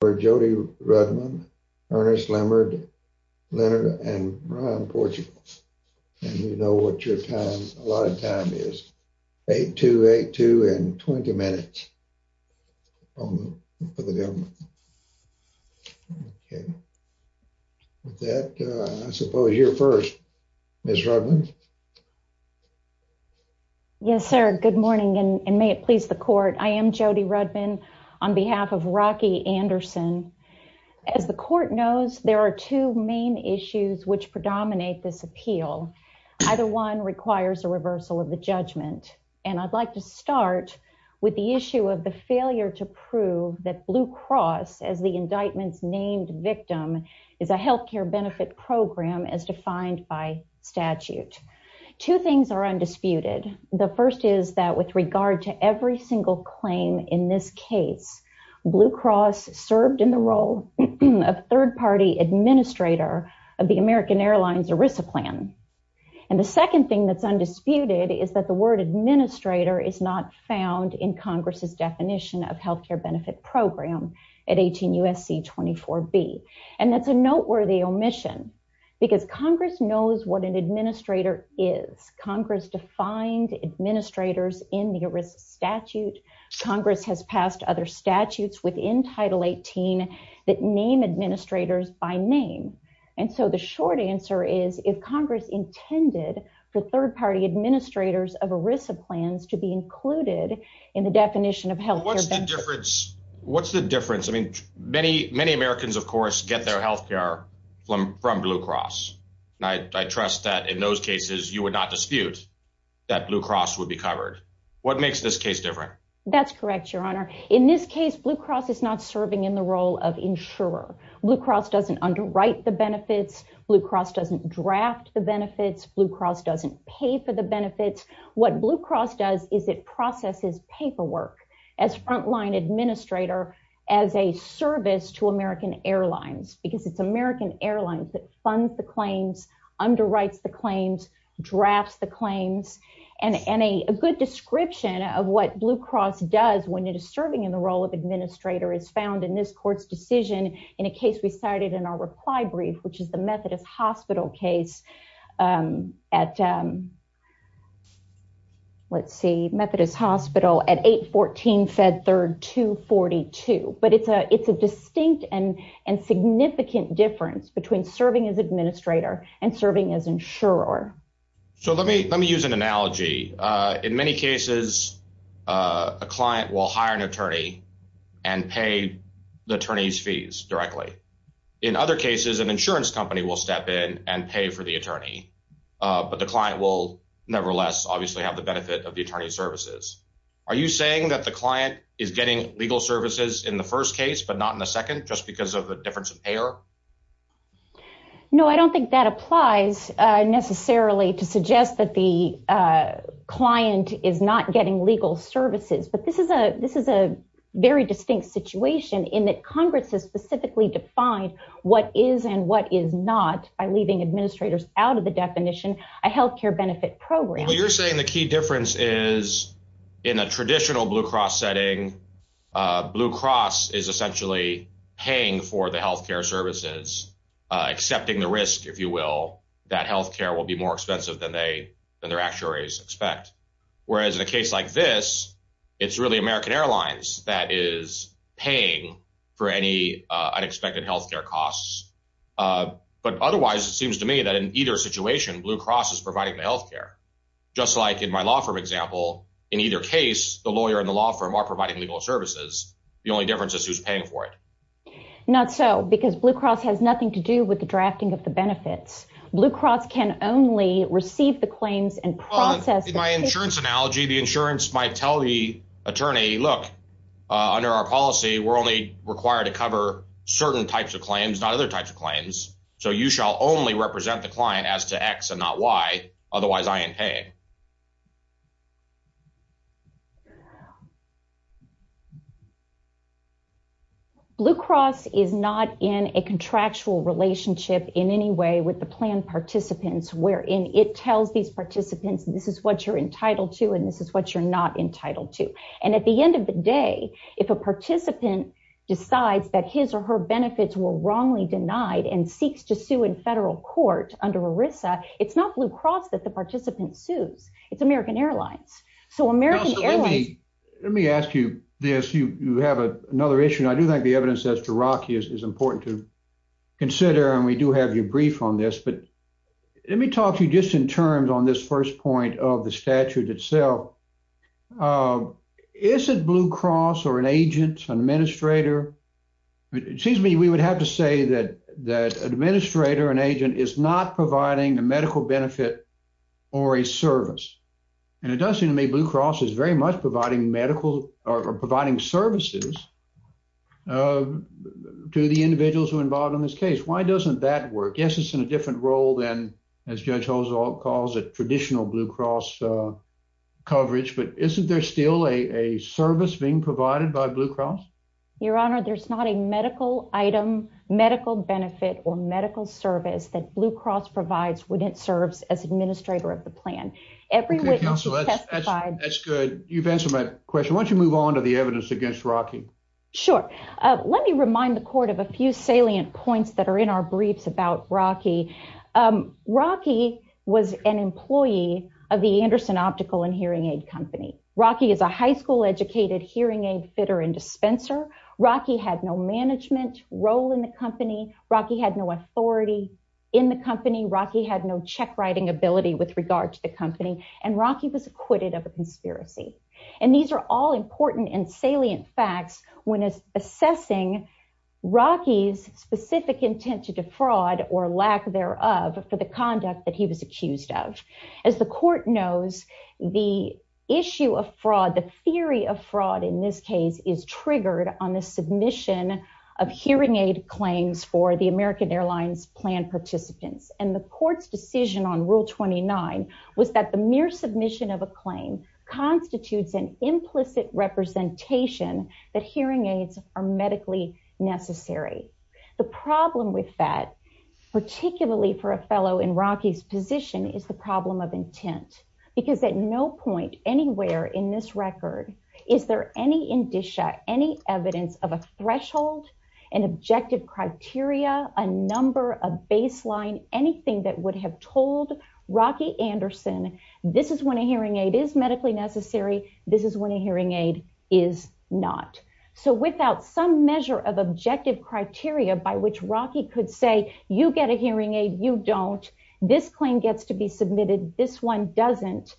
for Jody Rudman, Ernest Leonard, Leonard and Ron Portugal. And you know what your time a lot of time is. 8282 and 20 minutes for the government. Okay. With that, I suppose you're first, Ms. Rudman. Yes, sir. Good morning and may it please the court. I am Jody Rudman on behalf of Rocky Anderson. As the court knows, there are two main issues which predominate this appeal. Either one requires a reversal of the judgment. And I'd like to start with the issue of the failure to prove that Blue Cross as the indictments named victim is a health care benefit program as defined by statute. Two things are undisputed. The first is that with regard to every single claim in this case, Blue Cross served in the role of third party administrator of the American Airlines ERISA plan. And the second thing that's undisputed is that the word administrator is not found in Congress's definition of health care benefit program at 18 USC 24 B. And that's a noteworthy omission. Because Congress knows what an administrator is. Congress defined administrators in the ERISA statute. Congress has passed other statutes within Title 18 that name administrators by name. And so the short answer is if Congress intended for third party administrators of ERISA plans to be included in the definition of health care. What's the difference? What's the difference? I mean, many, many Americans, of course, get their health care from Blue Cross. And I trust that in those cases, you would not dispute that Blue Cross would be covered. What makes this case different? That's correct, your honor. In this case, Blue Cross is not serving in the role of insurer. Blue Cross doesn't underwrite the benefits. Blue Cross doesn't draft the benefits. Blue Cross doesn't pay for the benefits. What Blue Cross does is it processes paperwork as frontline administrator, as a service to American Airlines, because it's American Airlines that funds the claims, underwrites the claims, drafts the claims and a good description of what Blue Cross does when it is serving in the role of administrator is found in this court's decision in a case we cited in our reply brief, which is the Methodist Hospital case at. Let's see, Methodist Hospital at 814 Fed Third 242, but it's a it's a distinct and and significant difference between serving as administrator and serving as insurer. So let me let me use an analogy. In many cases, a client will hire an attorney and pay the attorney's fees directly. In other cases, an insurance company will step in and pay for the attorney, but the client will nevertheless obviously have the benefit of the attorney's services. Are you saying that the client is getting legal services in the first case, but not in the second just because of the difference of payer? No, I don't think that applies necessarily to suggest that the client is not getting legal services. But this is a this is a very distinct situation in that Congress has specifically defined what is and what is not by leaving administrators out of the definition. A health care benefit program. You're saying the key difference is in a traditional Blue Cross setting. Blue Cross is essentially paying for the health care services, accepting the risk, if you will, that health care will be more expensive than they than their actuaries expect. Whereas in a case like this, it's really American Airlines that is paying for any unexpected health care costs. But otherwise, it seems to me that in either situation, Blue Cross is providing the health care, just like in my law firm example. In either case, the lawyer and the law firm are providing legal services. The only difference is who's paying for it. Not so because Blue Cross has nothing to do with the drafting of the benefits. Blue Cross can only receive the claims and process my insurance analogy. The insurance might tell the attorney, look, under our policy, we're only required to cover certain types of claims, not other types of claims. So you shall only represent the client as to X and not Y. Otherwise, I am paying. Blue Cross is not in a contractual relationship in any way with the plan participants, wherein it tells these participants this is what you're entitled to and this is what you're not entitled to. And at the end of the day, if a participant decides that his or her benefits were wrongly denied and seeks to sue in federal court under ERISA, it's not Blue Cross that the participant sues. It's American Airlines. So American Airlines- Let me ask you this. You have another issue. And I do think the evidence that's to rock you is important to consider. And we do have your brief on this. But let me talk to you just in terms on this first point of the statute itself. Is it Blue Cross or an agent, an administrator? It seems to me we would have to say that an administrator or an agent is not providing a medical benefit or a service. And it does seem to me Blue Cross is very much providing medical or providing services to the individuals who are involved in this case. Why doesn't that work? Yes, in a different role than as Judge Hozol calls it traditional Blue Cross coverage. But isn't there still a service being provided by Blue Cross? Your Honor, there's not a medical item, medical benefit or medical service that Blue Cross provides when it serves as administrator of the plan. Every witness has testified- That's good. You've answered my question. Why don't you move on to the evidence against Rocky? Sure. Let me remind the court of a few salient points that are in our briefs about Rocky. Rocky was an employee of the Anderson Optical and Hearing Aid Company. Rocky is a high school educated hearing aid fitter and dispenser. Rocky had no management role in the company. Rocky had no authority in the company. Rocky had no check writing ability with regard to the company. And Rocky was acquitted of a conspiracy. And these are all important and salient facts when assessing Rocky's specific intent to defraud or lack thereof for the conduct that he was accused of. As the court knows, the issue of fraud, the theory of fraud in this case is triggered on the submission of hearing aid claims for the American Airlines plan participants. And the court's decision on Rule 29 was that the mere submission of a claim constitutes an implicit representation that hearing aids are medically necessary. The problem with that, particularly for a fellow in Rocky's position, is the problem of intent. Because at no point anywhere in this record is there any indicia, any evidence of a threshold, an objective criteria, a number, a baseline, anything that would have told Rocky Anderson, this is when a hearing aid is medically necessary, this is when a hearing aid is not. So without some measure of objective criteria by which Rocky could say, you get a hearing aid, you don't, this claim gets to be submitted, this one doesn't,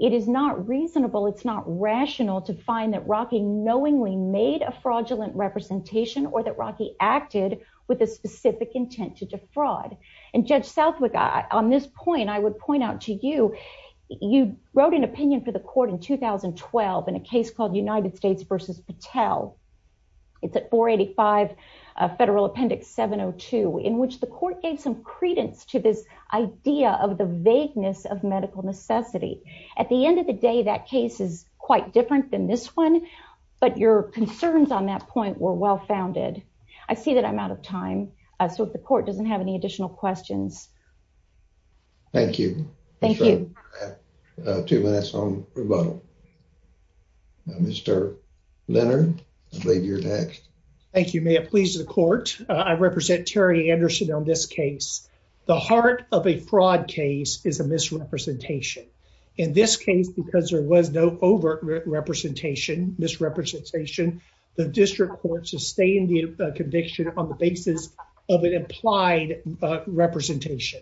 it is not reasonable, it's not rational to find that Rocky knowingly made a fraudulent representation or that Rocky acted with a specific intent to defraud. And Judge Southwick, on this point, I would point out to you, you wrote an opinion for the court in 2012 in a case called United States versus Patel. It's at 485 Federal Appendix 702, in which the court gave some credence to this idea of the vagueness of medical necessity. At the end of the day, that case is quite different than this one. But your concerns on that point were well-founded. I see that I'm out of time. So if the court doesn't have any additional questions. Thank you. Thank you. Two minutes on rebuttal. Mr. Leonard, I believe you're next. Thank you. May it please the court, I represent Terry Anderson on this case. The heart of a fraud case is a misrepresentation. In this case, because there was no overt misrepresentation, the district court sustained the conviction on the basis of an implied representation.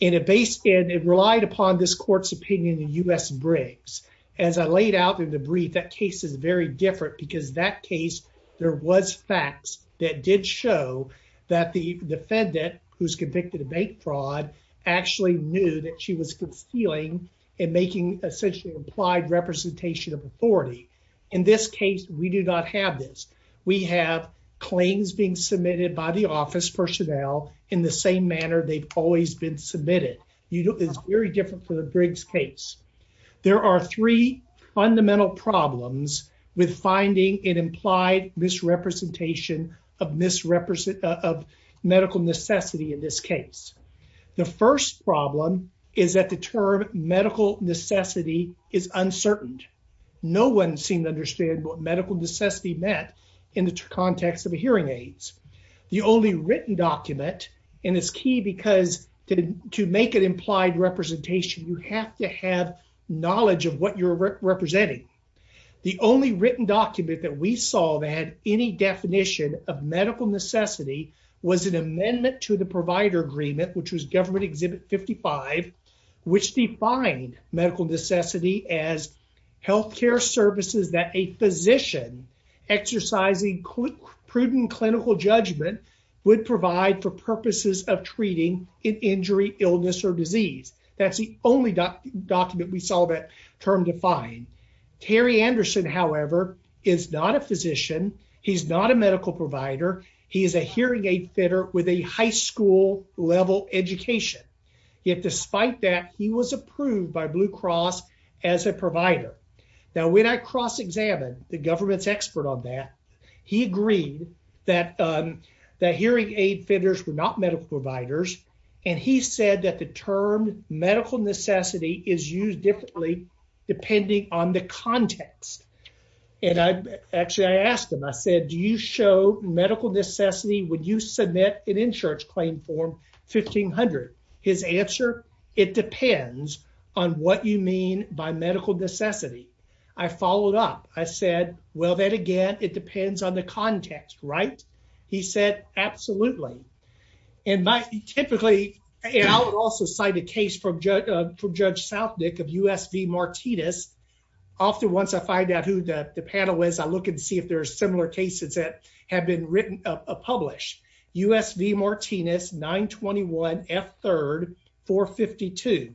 And it relied upon this court's opinion in U.S. Briggs. As I laid out in the brief, that case is very different because that case, there was facts that did show that the defendant, who's convicted of bank fraud, actually knew that she was concealing and making essentially implied representation of authority. In this case, we do not have this. We have claims being submitted by the office personnel in the same manner they've always been submitted. It's very different for the Briggs case. There are three fundamental problems with finding an implied misrepresentation of medical necessity in this case. The first problem is that the term medical necessity is uncertain. No one seemed to understand what medical necessity meant in the context of hearing aids. The only written document, and it's key because to make an implied representation, you have to have knowledge of what you're representing. The only written document that we saw that had any definition of medical necessity was an amendment to the provider agreement, which was government exhibit 55, which defined medical necessity as health care services that a physician exercising prudent clinical judgment would provide for purposes of treating an injury, illness, or disease. That's the only document we saw that term defined. Terry Anderson, however, is not a physician. He's not a medical provider. He is a hearing aid fitter with a high school level education. Yet, despite that, he was approved by Blue Cross as a provider. Now, when I cross-examined the government's expert on that, he agreed that hearing aid fitters were not medical providers, and he said that the term medical necessity is used differently depending on the context. And actually, I asked him, I said, do you show medical necessity when you submit an insurance claim form 1500? His answer, it depends on what you mean by medical necessity. I followed up. I said, well, then again, it depends on the context, right? He said, absolutely. And typically, I would also cite a case from Judge Southwick of U.S. v. Martinez. Often, once I find out who the panel is, I look and see if there are similar cases that have been published. U.S. v. Martinez, 921 F. 3rd, 452.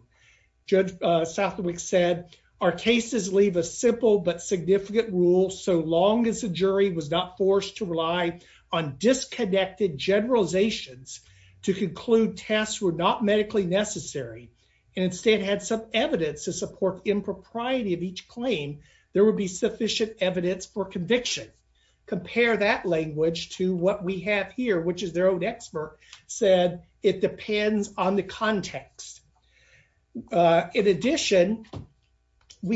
Judge Southwick said, our cases leave a simple but significant rule so long as jury was not forced to rely on disconnected generalizations to conclude tests were not medically necessary and instead had some evidence to support impropriety of each claim, there would be sufficient evidence for conviction. Compare that language to what we have here, which is said, it depends on the context. In addition, in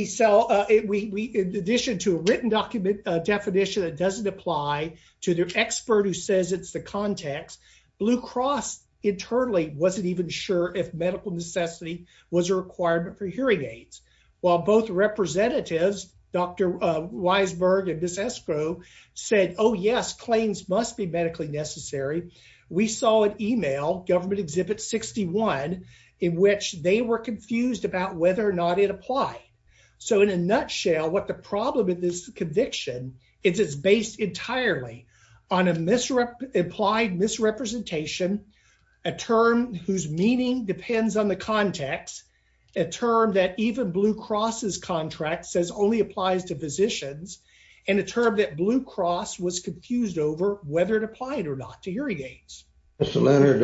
addition to a written definition that doesn't apply to the expert who says it's the context, Blue Cross internally wasn't even sure if medical necessity was a requirement for hearing aids. While both representatives, Dr. Weisberg and Ms. Weisberg, saw an email, Government Exhibit 61, in which they were confused about whether or not it applied. So, in a nutshell, what the problem with this conviction is, it's based entirely on an implied misrepresentation, a term whose meaning depends on the context, a term that even Blue Cross's contract says only applies to physicians, and a term that Blue Cross was confused over whether it applied or not to hearing aids. Mr. Leonard,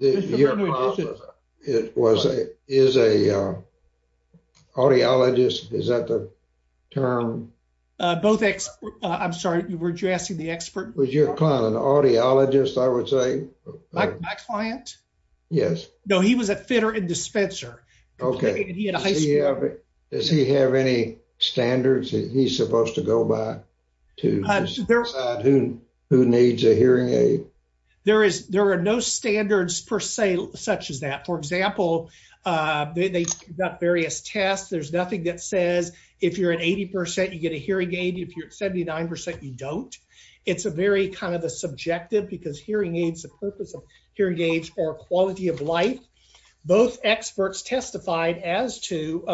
your client is an audiologist, is that the term? I'm sorry, weren't you asking the expert? Was your client an audiologist, I would say? My client? Yes. No, he was a fitter and dispenser. Okay. Does he have any standards that he's supposed to go by to decide who needs a hearing aid? There are no standards per se such as that. For example, they've got various tests, there's nothing that says if you're at 80% you get a hearing aid, if you're at 79% you don't. It's a very kind of a subjective, because hearing aids, the purpose of hearing aids are quality of life. Both experts testified as to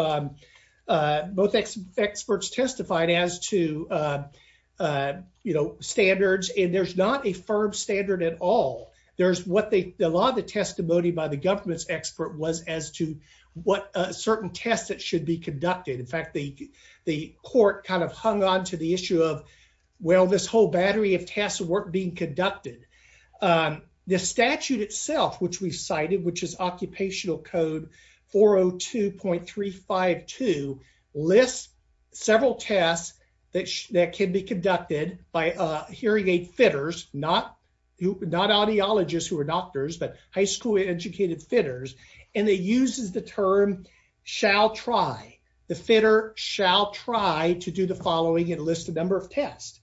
standards, and there's not a firm standard at all. A lot of the testimony by the government's expert was as to what certain tests that should be conducted. In fact, the court kind of hung on to the issue of, well, this whole battery of tests weren't being conducted. The statute itself, which is occupational code 402.352, lists several tests that can be conducted by hearing aid fitters, not audiologists who are doctors, but high school educated fitters, and it uses the term shall try. The fitter shall try to do the following and list the number of tests.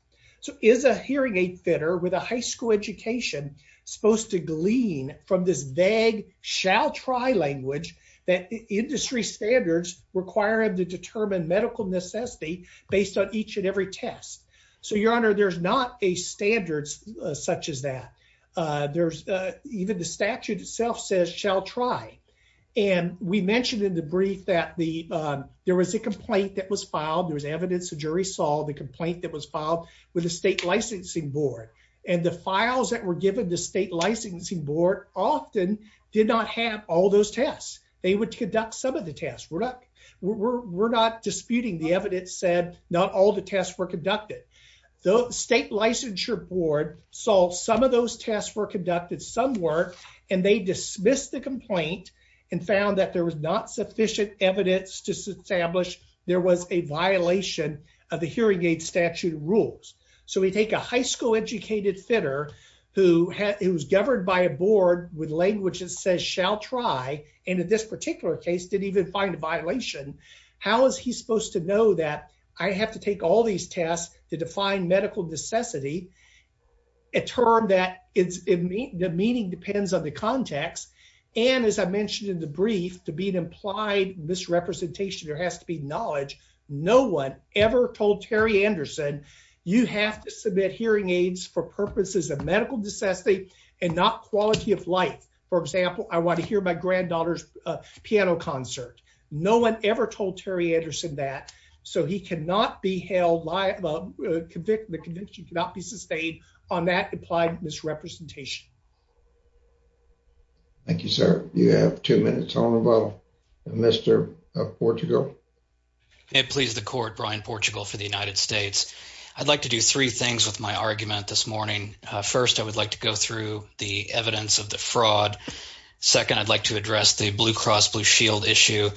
Is a hearing aid fitter with a high school education supposed to glean from this vague shall try language that industry standards require him to determine medical necessity based on each and every test? Your honor, there's not a standard such as that. Even the statute itself says shall try. We mentioned in the brief that there was a the complaint that was filed with the state licensing board, and the files that were given the state licensing board often did not have all those tests. They would conduct some of the tests. We're not disputing the evidence said not all the tests were conducted. The state licensure board saw some of those tests were conducted, some weren't, and they dismissed the complaint and that there was not sufficient evidence to establish there was a violation of the hearing aid statute rules. So we take a high school educated fitter who was governed by a board with language that says shall try, and in this particular case didn't even find a violation. How is he supposed to know that I have to take all these tests to define medical necessity, a term that the meaning depends on the context, and as I mentioned in the brief, to be an implied misrepresentation, there has to be knowledge. No one ever told Terry Anderson, you have to submit hearing aids for purposes of medical necessity and not quality of life. For example, I want to hear my granddaughter's piano concert. No one ever told Terry Anderson that. So he cannot be held liable. The conviction cannot be sustained on that implied misrepresentation. Thank you, sir. You have two minutes on about Mr. Portugal. It pleased the court. Brian Portugal for the United States. I'd like to do three things with my argument this morning. First, I would like to go through the evidence of the fraud. Second, I'd like to address the Blue Cross Blue Shield issue.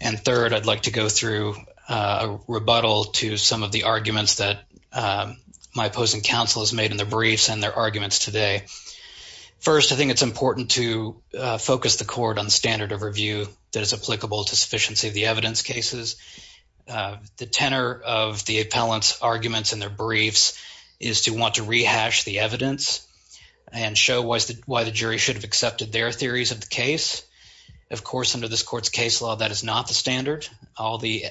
And third, I'd like to go through a rebuttal to some of the arguments that my opposing counsel has made in their briefs and their arguments today. First, I think it's important to focus the court on standard of review that is applicable to sufficiency of the evidence cases. The tenor of the appellant's arguments in their briefs is to want to rehash the evidence and show why the jury should have accepted their theories of the case. Of course, under this court's case law, that is not the standard. All the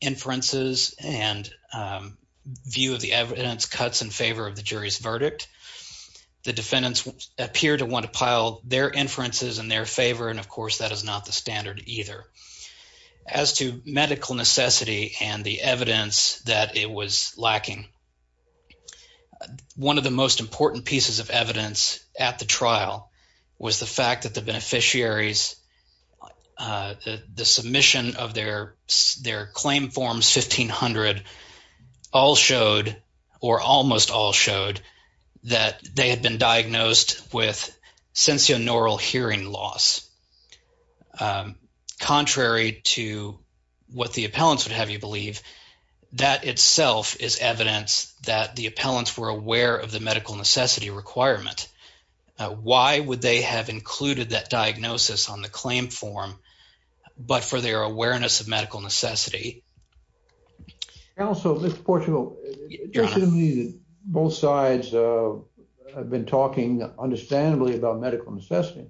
inferences and view of the evidence cuts in favor of the jury's verdict. The defendants appear to want to pile their inferences in their favor, and of course, that is not the standard either. As to medical necessity and the evidence that it was lacking, one of the most important pieces of evidence at the trial was the fact that the beneficiaries, the submission of their claim forms 1500, all showed, or almost all showed, that they had been diagnosed with sensorineural hearing loss. Contrary to what the appellants would have you believe, that itself is evidence that the appellants were aware of the medical necessity requirement. Why would they have included that on the claim form, but for their awareness of medical necessity? Also, Mr. Portugal, both sides have been talking understandably about medical necessity,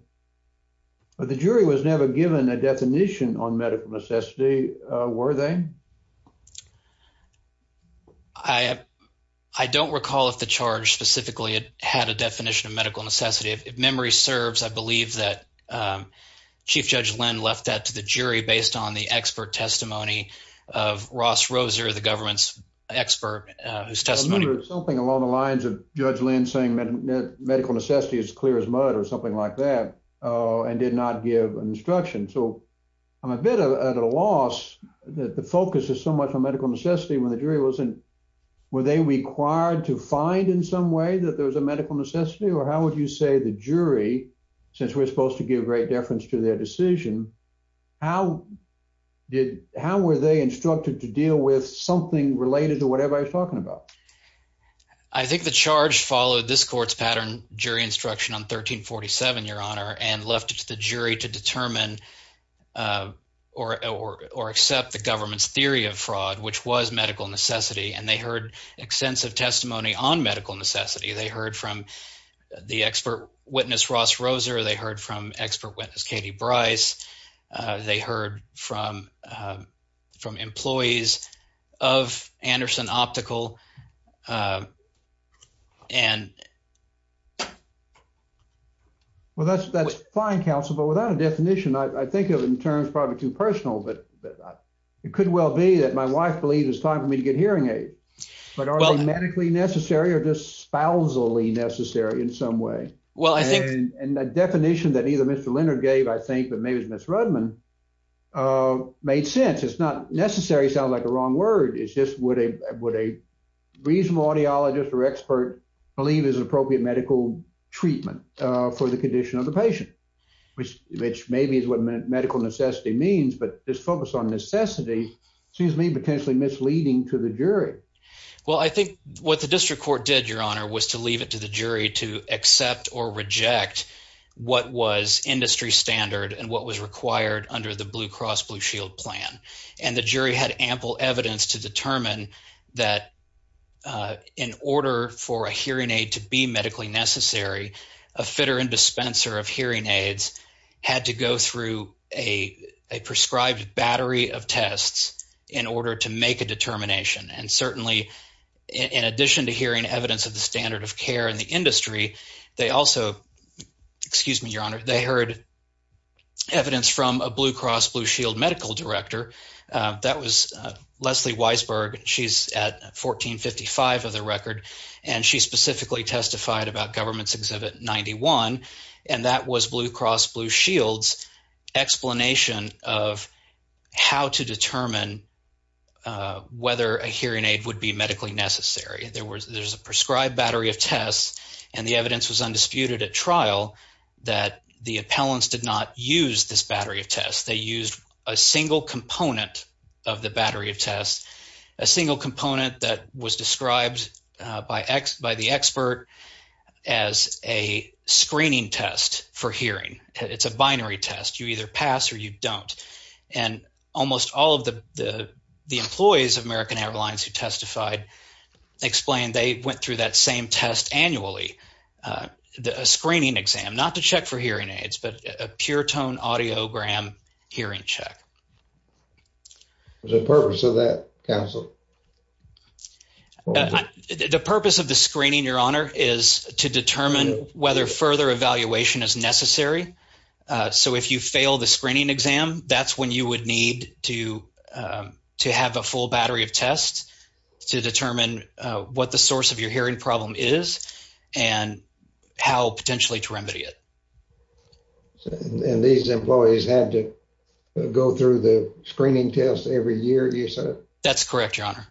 but the jury was never given a definition on medical necessity, were they? I don't recall if the charge specifically had a definition of medical necessity. If Chief Judge Lynn left that to the jury based on the expert testimony of Ross Roser, the government's expert, whose testimony... I remember something along the lines of Judge Lynn saying that medical necessity is clear as mud or something like that, and did not give an instruction. I'm a bit at a loss that the focus is so much on medical necessity when the jury wasn't... Were they required to find in some way that there was medical necessity, or how would you say the jury, since we're supposed to give great deference to their decision, how were they instructed to deal with something related to whatever I was talking about? I think the charge followed this court's pattern jury instruction on 1347, Your Honor, and left it to the jury to determine or accept the government's theory of fraud, which was medical necessity. They heard from the expert witness, Ross Roser. They heard from expert witness, Katie Bryce. They heard from employees of Anderson Optical, and... Well, that's fine, counsel, but without a definition, I think of it in terms probably too personal, but it could well be that my wife believes it's time for me to get hearing aid, but are they medically necessary or just spousally necessary in some way? Well, I think... And the definition that either Mr. Leonard gave, I think, but maybe it's Ms. Rudman, made sense. It's not necessary sounds like the wrong word. It's just what a reasonable audiologist or expert believe is appropriate medical treatment for the condition of the patient, which maybe is what medical necessity means, but this focus on necessity seems to be potentially misleading to the jury. Well, I think what the district court did, Your Honor, was to leave it to the jury to accept or reject what was industry standard and what was required under the Blue Cross Blue Shield plan, and the jury had ample evidence to determine that in order for a hearing aid to be medically necessary, a fitter and dispenser of hearing aids had to go through a prescribed battery of tests in order to make a determination, and certainly in addition to hearing evidence of the standard of care in the industry, they also, excuse me, Your Honor, they heard evidence from a Blue Cross Blue Shield medical director. That was Leslie Weisberg. She's at 1455 of the record, and she specifically testified about Government's Exhibit 91, and that was Blue Cross Blue Shield's explanation of how to determine whether a hearing aid would be medically necessary. There was a prescribed battery of tests, and the evidence was undisputed at trial that the appellants did not use this battery of tests. They used a single component of the battery of tests, a single component that was described by the expert as a screening test for hearing. It's a binary test. You either pass or you don't, and almost all of the employees of American Airlines who testified explained they went through that same test annually, a screening exam, not to check for hearing aids, but a pure-tone audiogram hearing check. What's the purpose of that, Counsel? The purpose of the screening, Your Honor, is to determine whether further evaluation is necessary. So if you fail the screening exam, that's when you would need to have a full battery of tests to determine what the source of your hearing problem is and how potentially to remedy it. And these employees had to go through the screening test every year, you said? That's correct, Your Honor.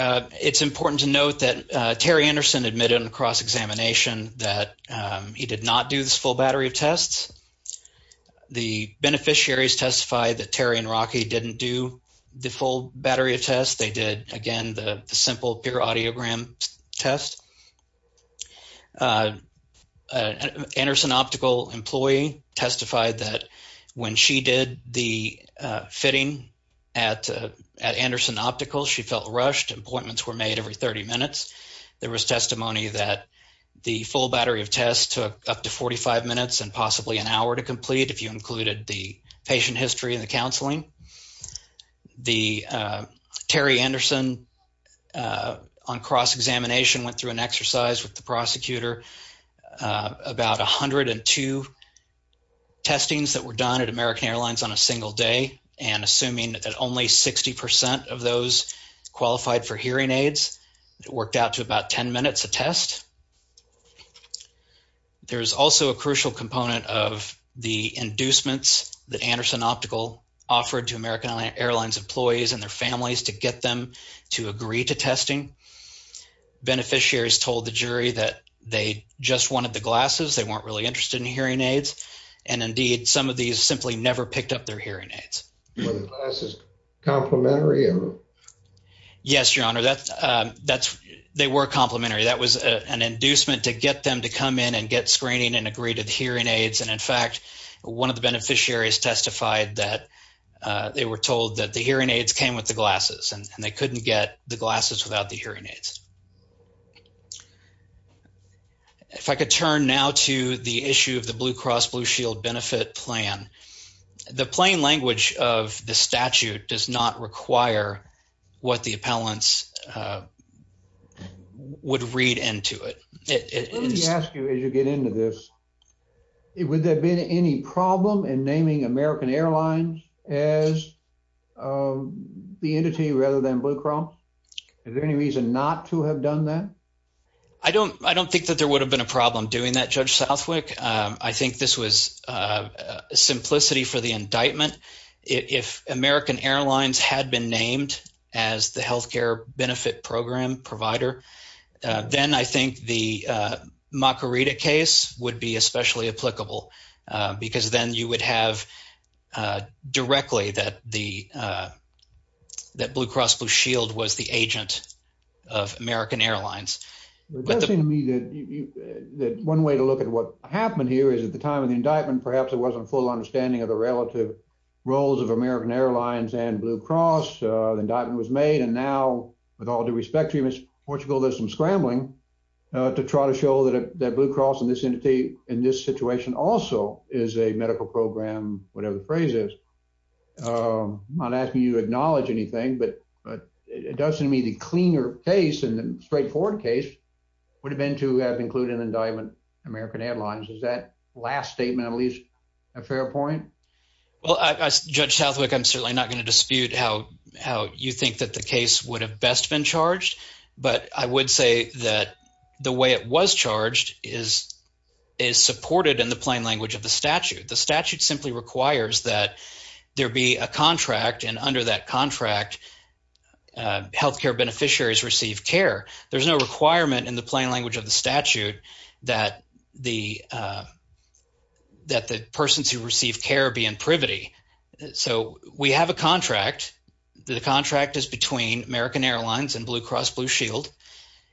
It's important to note that Terry Anderson admitted in a cross-examination that he did not do this full battery of tests. The beneficiaries testified that Terry and Rocky didn't do the full battery of tests. They did, again, the simple pure audiogram test. An Anderson Optical employee testified that when she did the fitting at Anderson Optical, she felt rushed. Appointments were made every 30 minutes. There was testimony that the full battery of tests took up to 45 minutes and possibly an hour to complete if you included the patient with the prosecutor. About 102 testings that were done at American Airlines on a single day, and assuming that only 60% of those qualified for hearing aids, it worked out to about 10 minutes of test. There's also a crucial component of the inducements that Anderson Optical offered to American Airlines employees and their families to get them to agree to testing. Beneficiaries told the jury that they just wanted the glasses, they weren't really interested in hearing aids, and indeed, some of these simply never picked up their hearing aids. Yes, Your Honor, they were complimentary. That was an inducement to get them to come in and get screening and agree to the hearing aids. In fact, one of the beneficiaries testified that they were told that the hearing aids came with the glasses and they couldn't get the glasses without the hearing aids. If I could turn now to the issue of the Blue Cross Blue Shield benefit plan, the plain language of the statute does not require what the appellants would read into it. It is... Let me ask you as you get into this, would there have been any problem in naming American Airlines as the entity rather than Blue Cross? Is there any reason not to have done that? I don't think that there would have been a problem doing that, Judge Southwick. I think this was simplicity for the indictment. If American Airlines had been named as the healthcare benefit program provider, then I think the Macarita case would be especially applicable because then you would have directly that Blue Cross Blue Shield was the agent of American Airlines. It does seem to me that one way to look at what happened here is at the time of the indictment, perhaps it wasn't full understanding of the relative roles of American Airlines and Blue Cross. The indictment was made and now, with all due respect to you, Mr. Portugal, there's some is a medical program, whatever the phrase is. I'm not asking you to acknowledge anything, but it does seem to me the cleaner case and the straightforward case would have been to have included an indictment, American Airlines. Is that last statement at least a fair point? Well, Judge Southwick, I'm certainly not going to dispute how you think that the case would have best been charged, but I would say that the way it was charged is supported in the plain language of the statute. The statute simply requires that there be a contract and under that contract, healthcare beneficiaries receive care. There's no requirement in the plain language of the statute that the persons who receive care be in privity. So, we have a contract. The contract is between American Airlines and Blue Cross Blue Shield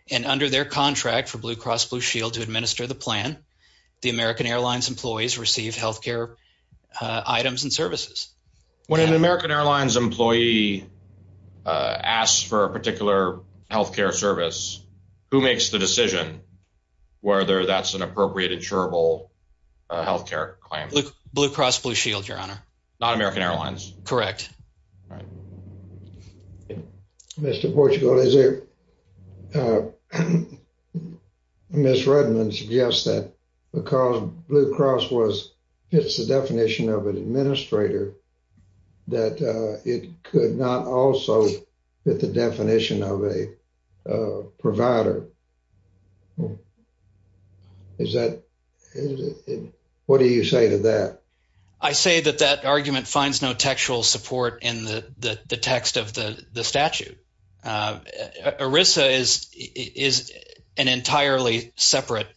and under their contract for Blue Cross Blue Shield to administer the plan, the American Airlines employees receive healthcare items and services. When an American Airlines employee asks for a particular healthcare service, who makes the decision whether that's an appropriate insurable healthcare claim? Blue Cross Blue Shield, not American Airlines. Correct. Mr. Portugal, Ms. Redmond suggests that because Blue Cross fits the definition of an administrator, that it could not also fit the definition of a provider. What do you say to that? I say that that argument finds no textual support in the text of the statute. ERISA is an entirely separate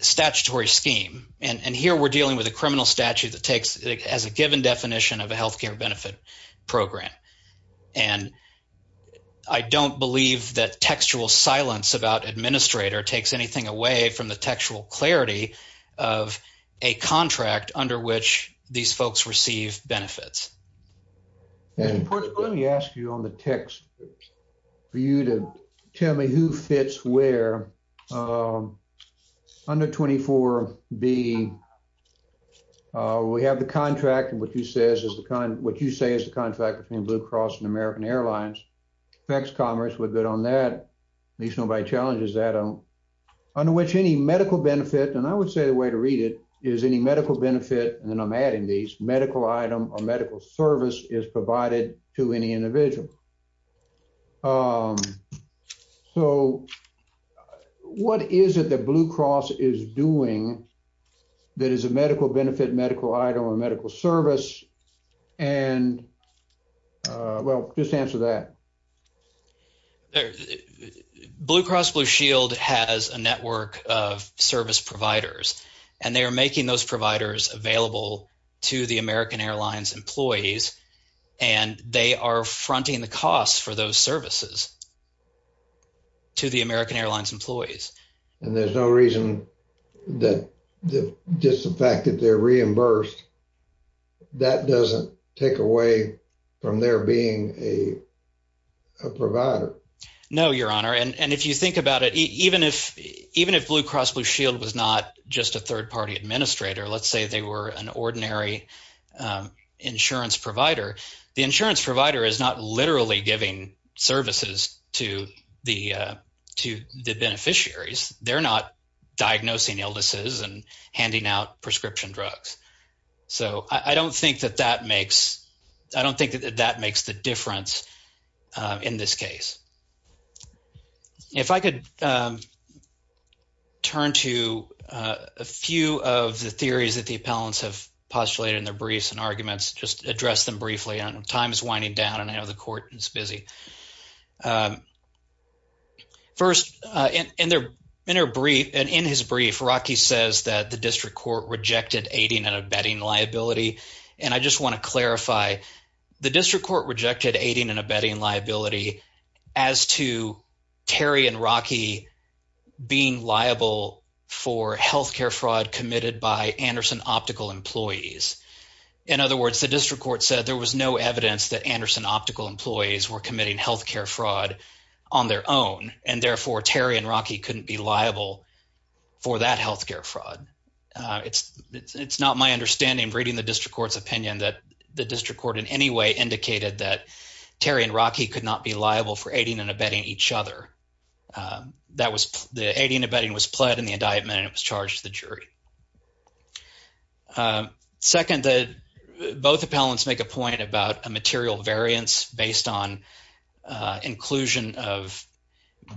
statutory scheme and here we're dealing with a criminal statute that takes as a given definition of a healthcare benefit program and I don't believe that textual silence about administrator takes anything away from the textual clarity of a contract under which these folks receive benefits. Mr. Portugal, let me ask you on the text for you to tell me who fits where. Under 24B, we have the contract and what you say is the tax commerce, we're good on that. At least nobody challenges that. Under which any medical benefit, and I would say the way to read it is any medical benefit, and I'm adding these, medical item or medical service is provided to any individual. So what is it that Blue Cross is doing that is a medical benefit, medical item, or medical service? Well, just answer that. Blue Cross Blue Shield has a network of service providers and they are making those providers available to the American Airlines employees and they are fronting the costs for those services to the American Airlines employees. And there's no reason that just the fact that they're reimbursed, that doesn't take away from there being a provider? No, your honor, and if you think about it, even if Blue Cross Blue Shield was not just a third-party administrator, let's say they were an ordinary insurance provider, the insurance provider is not literally giving services to the beneficiaries. They're not diagnosing illnesses and handing out prescription drugs. So I don't think that that makes, I don't think that that makes the difference in this case. If I could turn to a few of the theories that the appellants have postulated in their briefs and arguments, just address them briefly, and time is winding down and I know the court is busy. First, in their brief, and in his brief, Rocky says that the district court rejected aiding and abetting liability. And I just want to clarify, the district court rejected aiding and abetting liability as to Terry and Rocky being liable for healthcare fraud committed by Anderson Optical employees. In other words, the district court said there was no evidence that Anderson Optical employees were committing healthcare fraud on their own, and therefore, Terry and Rocky couldn't be liable for that healthcare fraud. It's not my understanding, reading the district court's opinion, that the district court in any way indicated that Terry and Rocky could not be liable for aiding and abetting each other. The aiding and abetting was pled in the indictment and it was charged to the jury. Second, both appellants make a point about a material variance based on inclusion of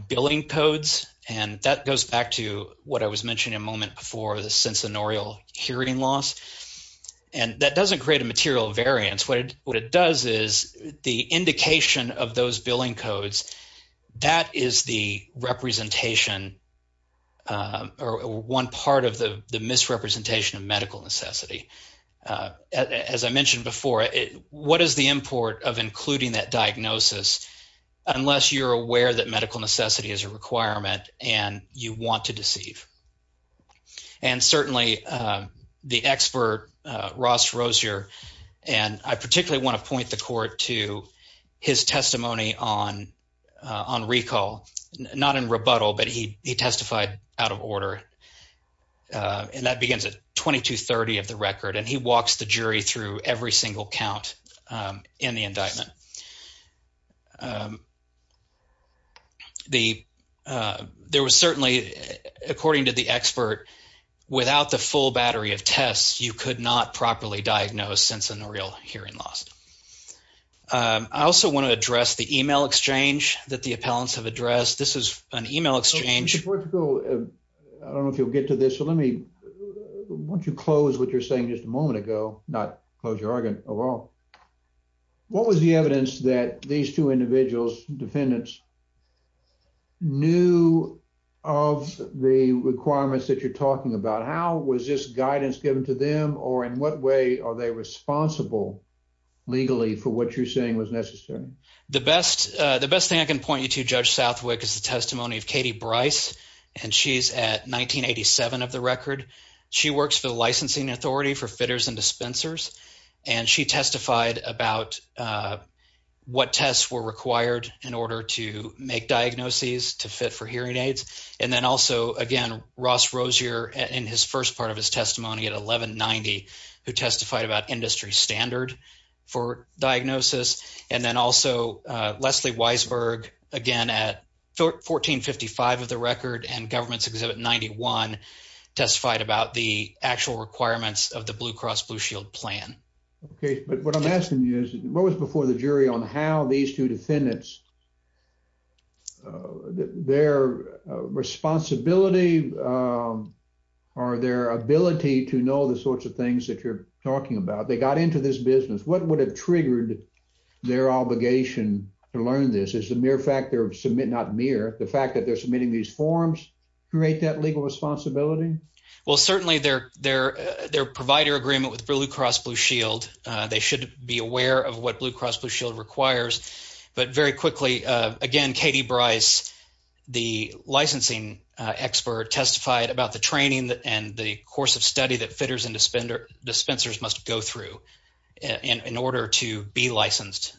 billing codes, and that goes back to what I was mentioning a moment before, the censonorial hearing loss, and that doesn't create a material variance. What it does is the indication of those billing codes, that is the representation or one part of the diagnosis, unless you're aware that medical necessity is a requirement and you want to deceive. And certainly, the expert, Ross Rozier, and I particularly want to point the court to his testimony on recall, not in rebuttal, but he testified out of order, and that begins at 2230 of the record, and he walks the jury through every single count in the indictment. There was certainly, according to the expert, without the full battery of tests, you could not properly diagnose censonorial hearing loss. I also want to address the email exchange that the appellants have addressed. This is an email exchange. I don't know if you'll get to this, so let me, why don't you close what you're saying just a moment ago, not close your argument at all. What was the evidence that these two individuals, defendants, knew of the requirements that you're talking about? How was this guidance given to them, or in what way are they responsible legally for what you're saying was necessary? The best thing I can point you to, Judge Southwick, is the testimony of Katie Bryce, and she's at 1987 of the record. She works for the licensing authority for fitters and dispensers, and she testified about what tests were required in order to make diagnoses to fit for hearing aids, and then also, again, Ross Rozier, in his first part of his testimony at 1190, who testified about industry standard for diagnosis, and then also Leslie Weisberg, again at 1455 of the record and government's exhibit 91, testified about the actual requirements of the Blue Cross Blue Shield plan. Okay, but what I'm asking you is, what was before the jury on how these two defendants, their responsibility, or their ability to know the sorts of things that you're talking about, they got into this business, what would have triggered their obligation to learn this? Is the mere fact they're submitting, not mere, the fact that they're submitting these forms create that legal responsibility? Well, certainly, their provider agreement with Blue Cross Blue Shield, they should be aware of what Blue Cross Blue Shield requires, but very quickly, again, Katie Bryce, the licensing expert testified about the training and the course of study that fitters and dispensers must go through in order to be licensed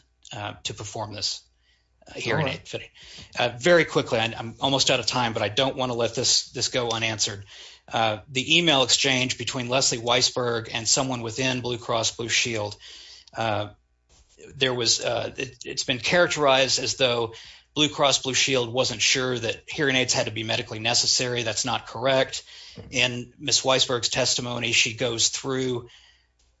to perform this hearing aid fitting. Very quickly, I'm almost out of time, but I don't want to let this go unanswered. The email exchange between Leslie Weisberg and someone within Blue Cross Blue Shield, there was, it's been characterized as though Blue Cross Blue Shield wasn't sure that hearing aids had to be medically necessary. That's not correct. In Ms. Weisberg's testimony, she goes through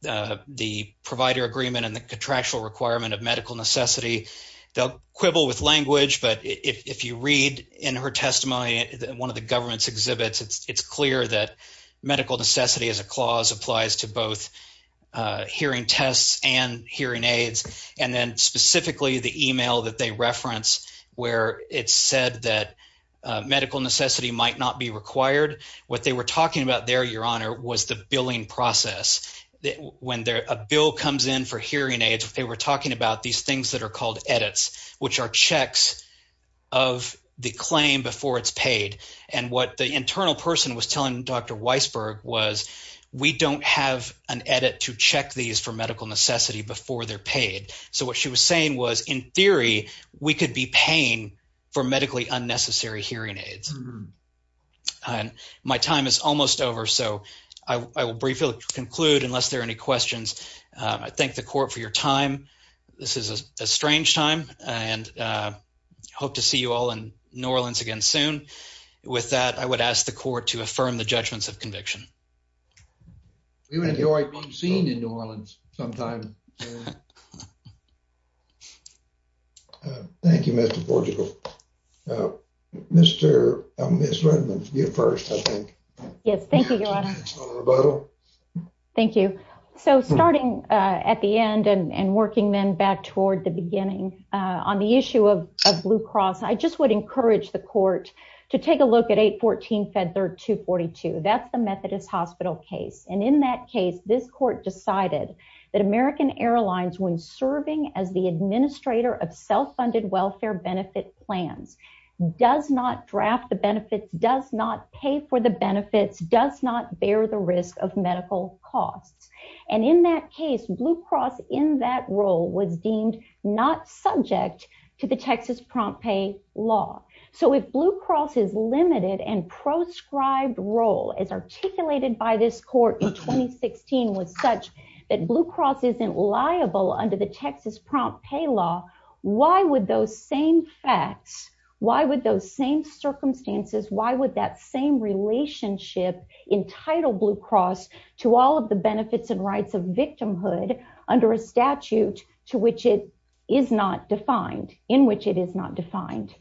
the provider agreement and the contractual requirement of medical necessity. They'll quibble with language, but if you read in her testimony, one of the government's exhibits, it's clear that hearing tests and hearing aids, and then specifically the email that they reference, where it said that medical necessity might not be required. What they were talking about there, your honor, was the billing process. When a bill comes in for hearing aids, they were talking about these things that are called edits, which are checks of the claim before it's paid. And the internal person was telling Dr. Weisberg, we don't have an edit to check these for medical necessity before they're paid. So what she was saying was, in theory, we could be paying for medically unnecessary hearing aids. My time is almost over, so I will briefly conclude unless there are any questions. I thank the court for your time. This is a strange time, and I hope to you all in New Orleans again soon. With that, I would ask the court to affirm the judgments of conviction. We would enjoy being seen in New Orleans sometime. Thank you, Mr. Portugal. Mr. Redmond, you're first, I think. Yes, thank you, your honor. Thank you. So starting at the beginning, I just would encourage the court to take a look at 814 Fed Third 242. That's the Methodist Hospital case. And in that case, this court decided that American Airlines, when serving as the administrator of self-funded welfare benefit plans, does not draft the benefits, does not pay for the benefits, does not bear the risk of medical costs. And in that case, Blue Cross in that role was deemed not subject to the Texas Prompt Pay law. So if Blue Cross's limited and proscribed role as articulated by this court in 2016 was such that Blue Cross isn't liable under the Texas Prompt Pay law, why would those same facts, why would those same circumstances, why would that same relationship entitle Blue Cross to all of the benefits and rights of victimhood under a statute which it is not defined, in which it is not defined?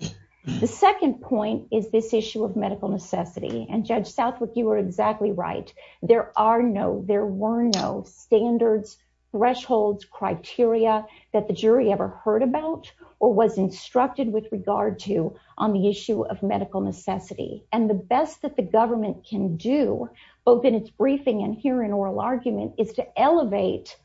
The second point is this issue of medical necessity. And Judge Southwick, you are exactly right. There are no, there were no standards, thresholds, criteria that the jury ever heard about or was instructed with regard to on the issue of medical necessity. And the best that the government can do, both in its briefing and here in oral argument, is to elevate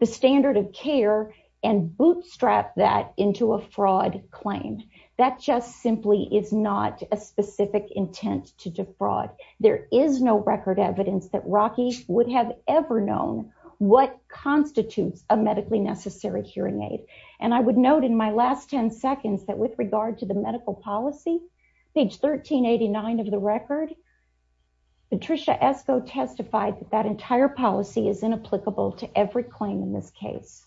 the standard of care and bootstrap that into a fraud claim. That just simply is not a specific intent to defraud. There is no record evidence that Rocky would have ever known what constitutes a medically necessary hearing aid. And I would note in my last 10 seconds that with regard to the medical policy, page 1389 of the record, Patricia Esko testified that that entire policy is inapplicable to every claim in this case.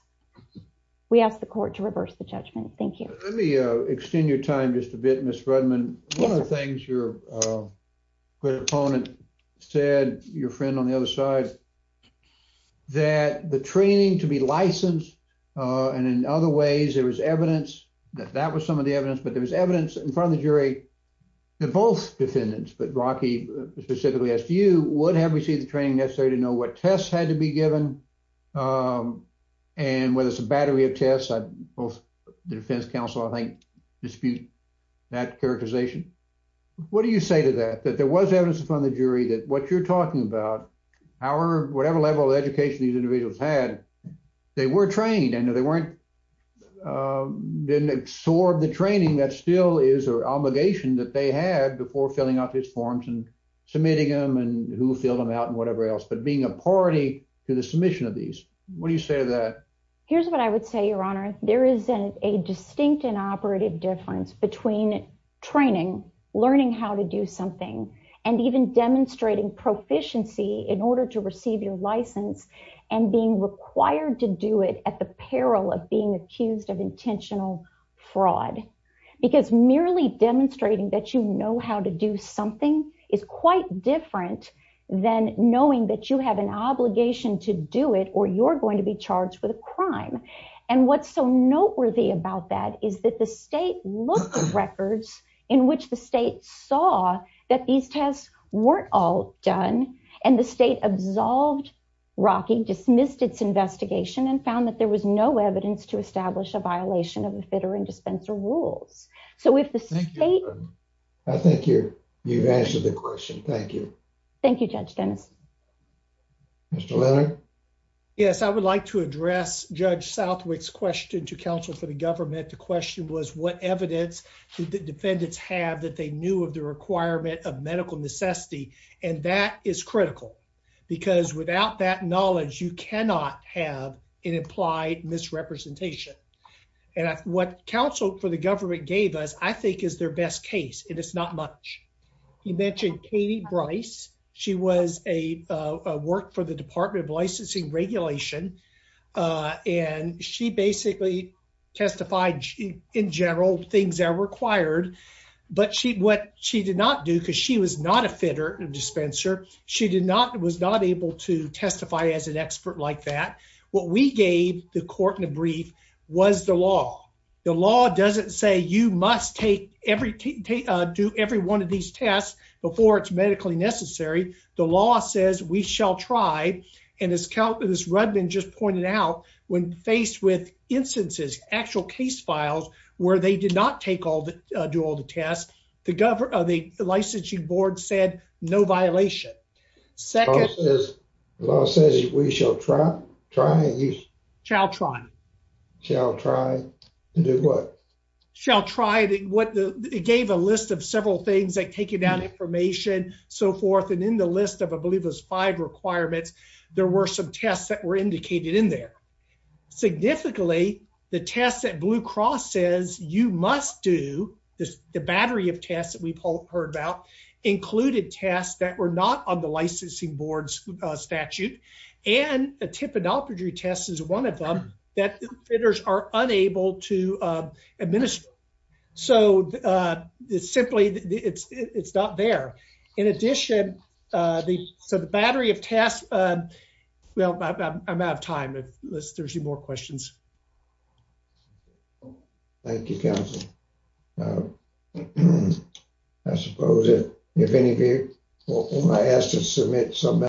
We ask the court to reverse the judgment. Thank you. Let me extend your time just a bit, Ms. Rudman. One of the things your opponent said, your friend on the other side, that the training to be licensed, and in other ways there was evidence that that was some of the evidence, but there was evidence in front of the jury that both defendants, but Rocky specifically asked you, would have received training necessary to know what tests had to be given and whether it's a battery of tests, the defense counsel I think dispute that characterization. What do you say to that, that there was evidence in front of the jury that what you're talking about, whatever level of education these individuals had, they were trained and they weren't, didn't absorb the training that still is an obligation that they had before filling out these forms and submitting them and who filled them out and whatever else, but being a party to the submission of these. What do you say to that? Here's what I would say, your honor. There is a distinct and operative difference between training, learning how to do something and even demonstrating proficiency in order to receive your license and being required to do it at the peril of being accused of intentional fraud because merely demonstrating that you know how to do something is quite different than knowing that you have an obligation to do it or you're going to be charged with a crime. And what's so noteworthy about that is that the state looked at records in which the state saw that these tests weren't all done and the state absolved Rocky, dismissed its investigation and found that there was no evidence to establish a violation of the you've answered the question. Thank you. Thank you, Judge Dennis. Mr. Leonard. Yes, I would like to address Judge Southwick's question to counsel for the government. The question was what evidence did the defendants have that they knew of the requirement of medical necessity? And that is critical because without that knowledge, you cannot have an implied misrepresentation. And what counsel for the government gave us, I think is their best case. And it's not much. You mentioned Katie Bryce. She was a work for the Department of Licensing Regulation. And she basically testified in general things are required. But she what she did not do because she was not a fitter and dispenser. She did not was not able to testify as an expert like that. What we gave the court in a brief was the law. The law doesn't say you must take every do every one of these tests before it's medically necessary. The law says we shall try. And as countless Rudman just pointed out, when faced with instances, actual case files, where they did not take all the do all the tests, the government of the licensing board said, no violation. Second, as long as we shall try, try and you shall try, shall try and do what shall try to what the gave a list of several things that take you down information, so forth. And in the list of I believe was five requirements. There were some tests that were indicated in there. Significantly, the test that Blue Cross says you must do this, the battery of tests that we've heard about included tests that were not on the licensing board's statute, and a tip. Adultery test is one of them that fitters are unable to administer. So, uh, simply, it's not there. In addition, the battery of tests. Well, I'm out of time. There's more questions. Thank you. Uh, I suppose if, if any, if I asked to submit some.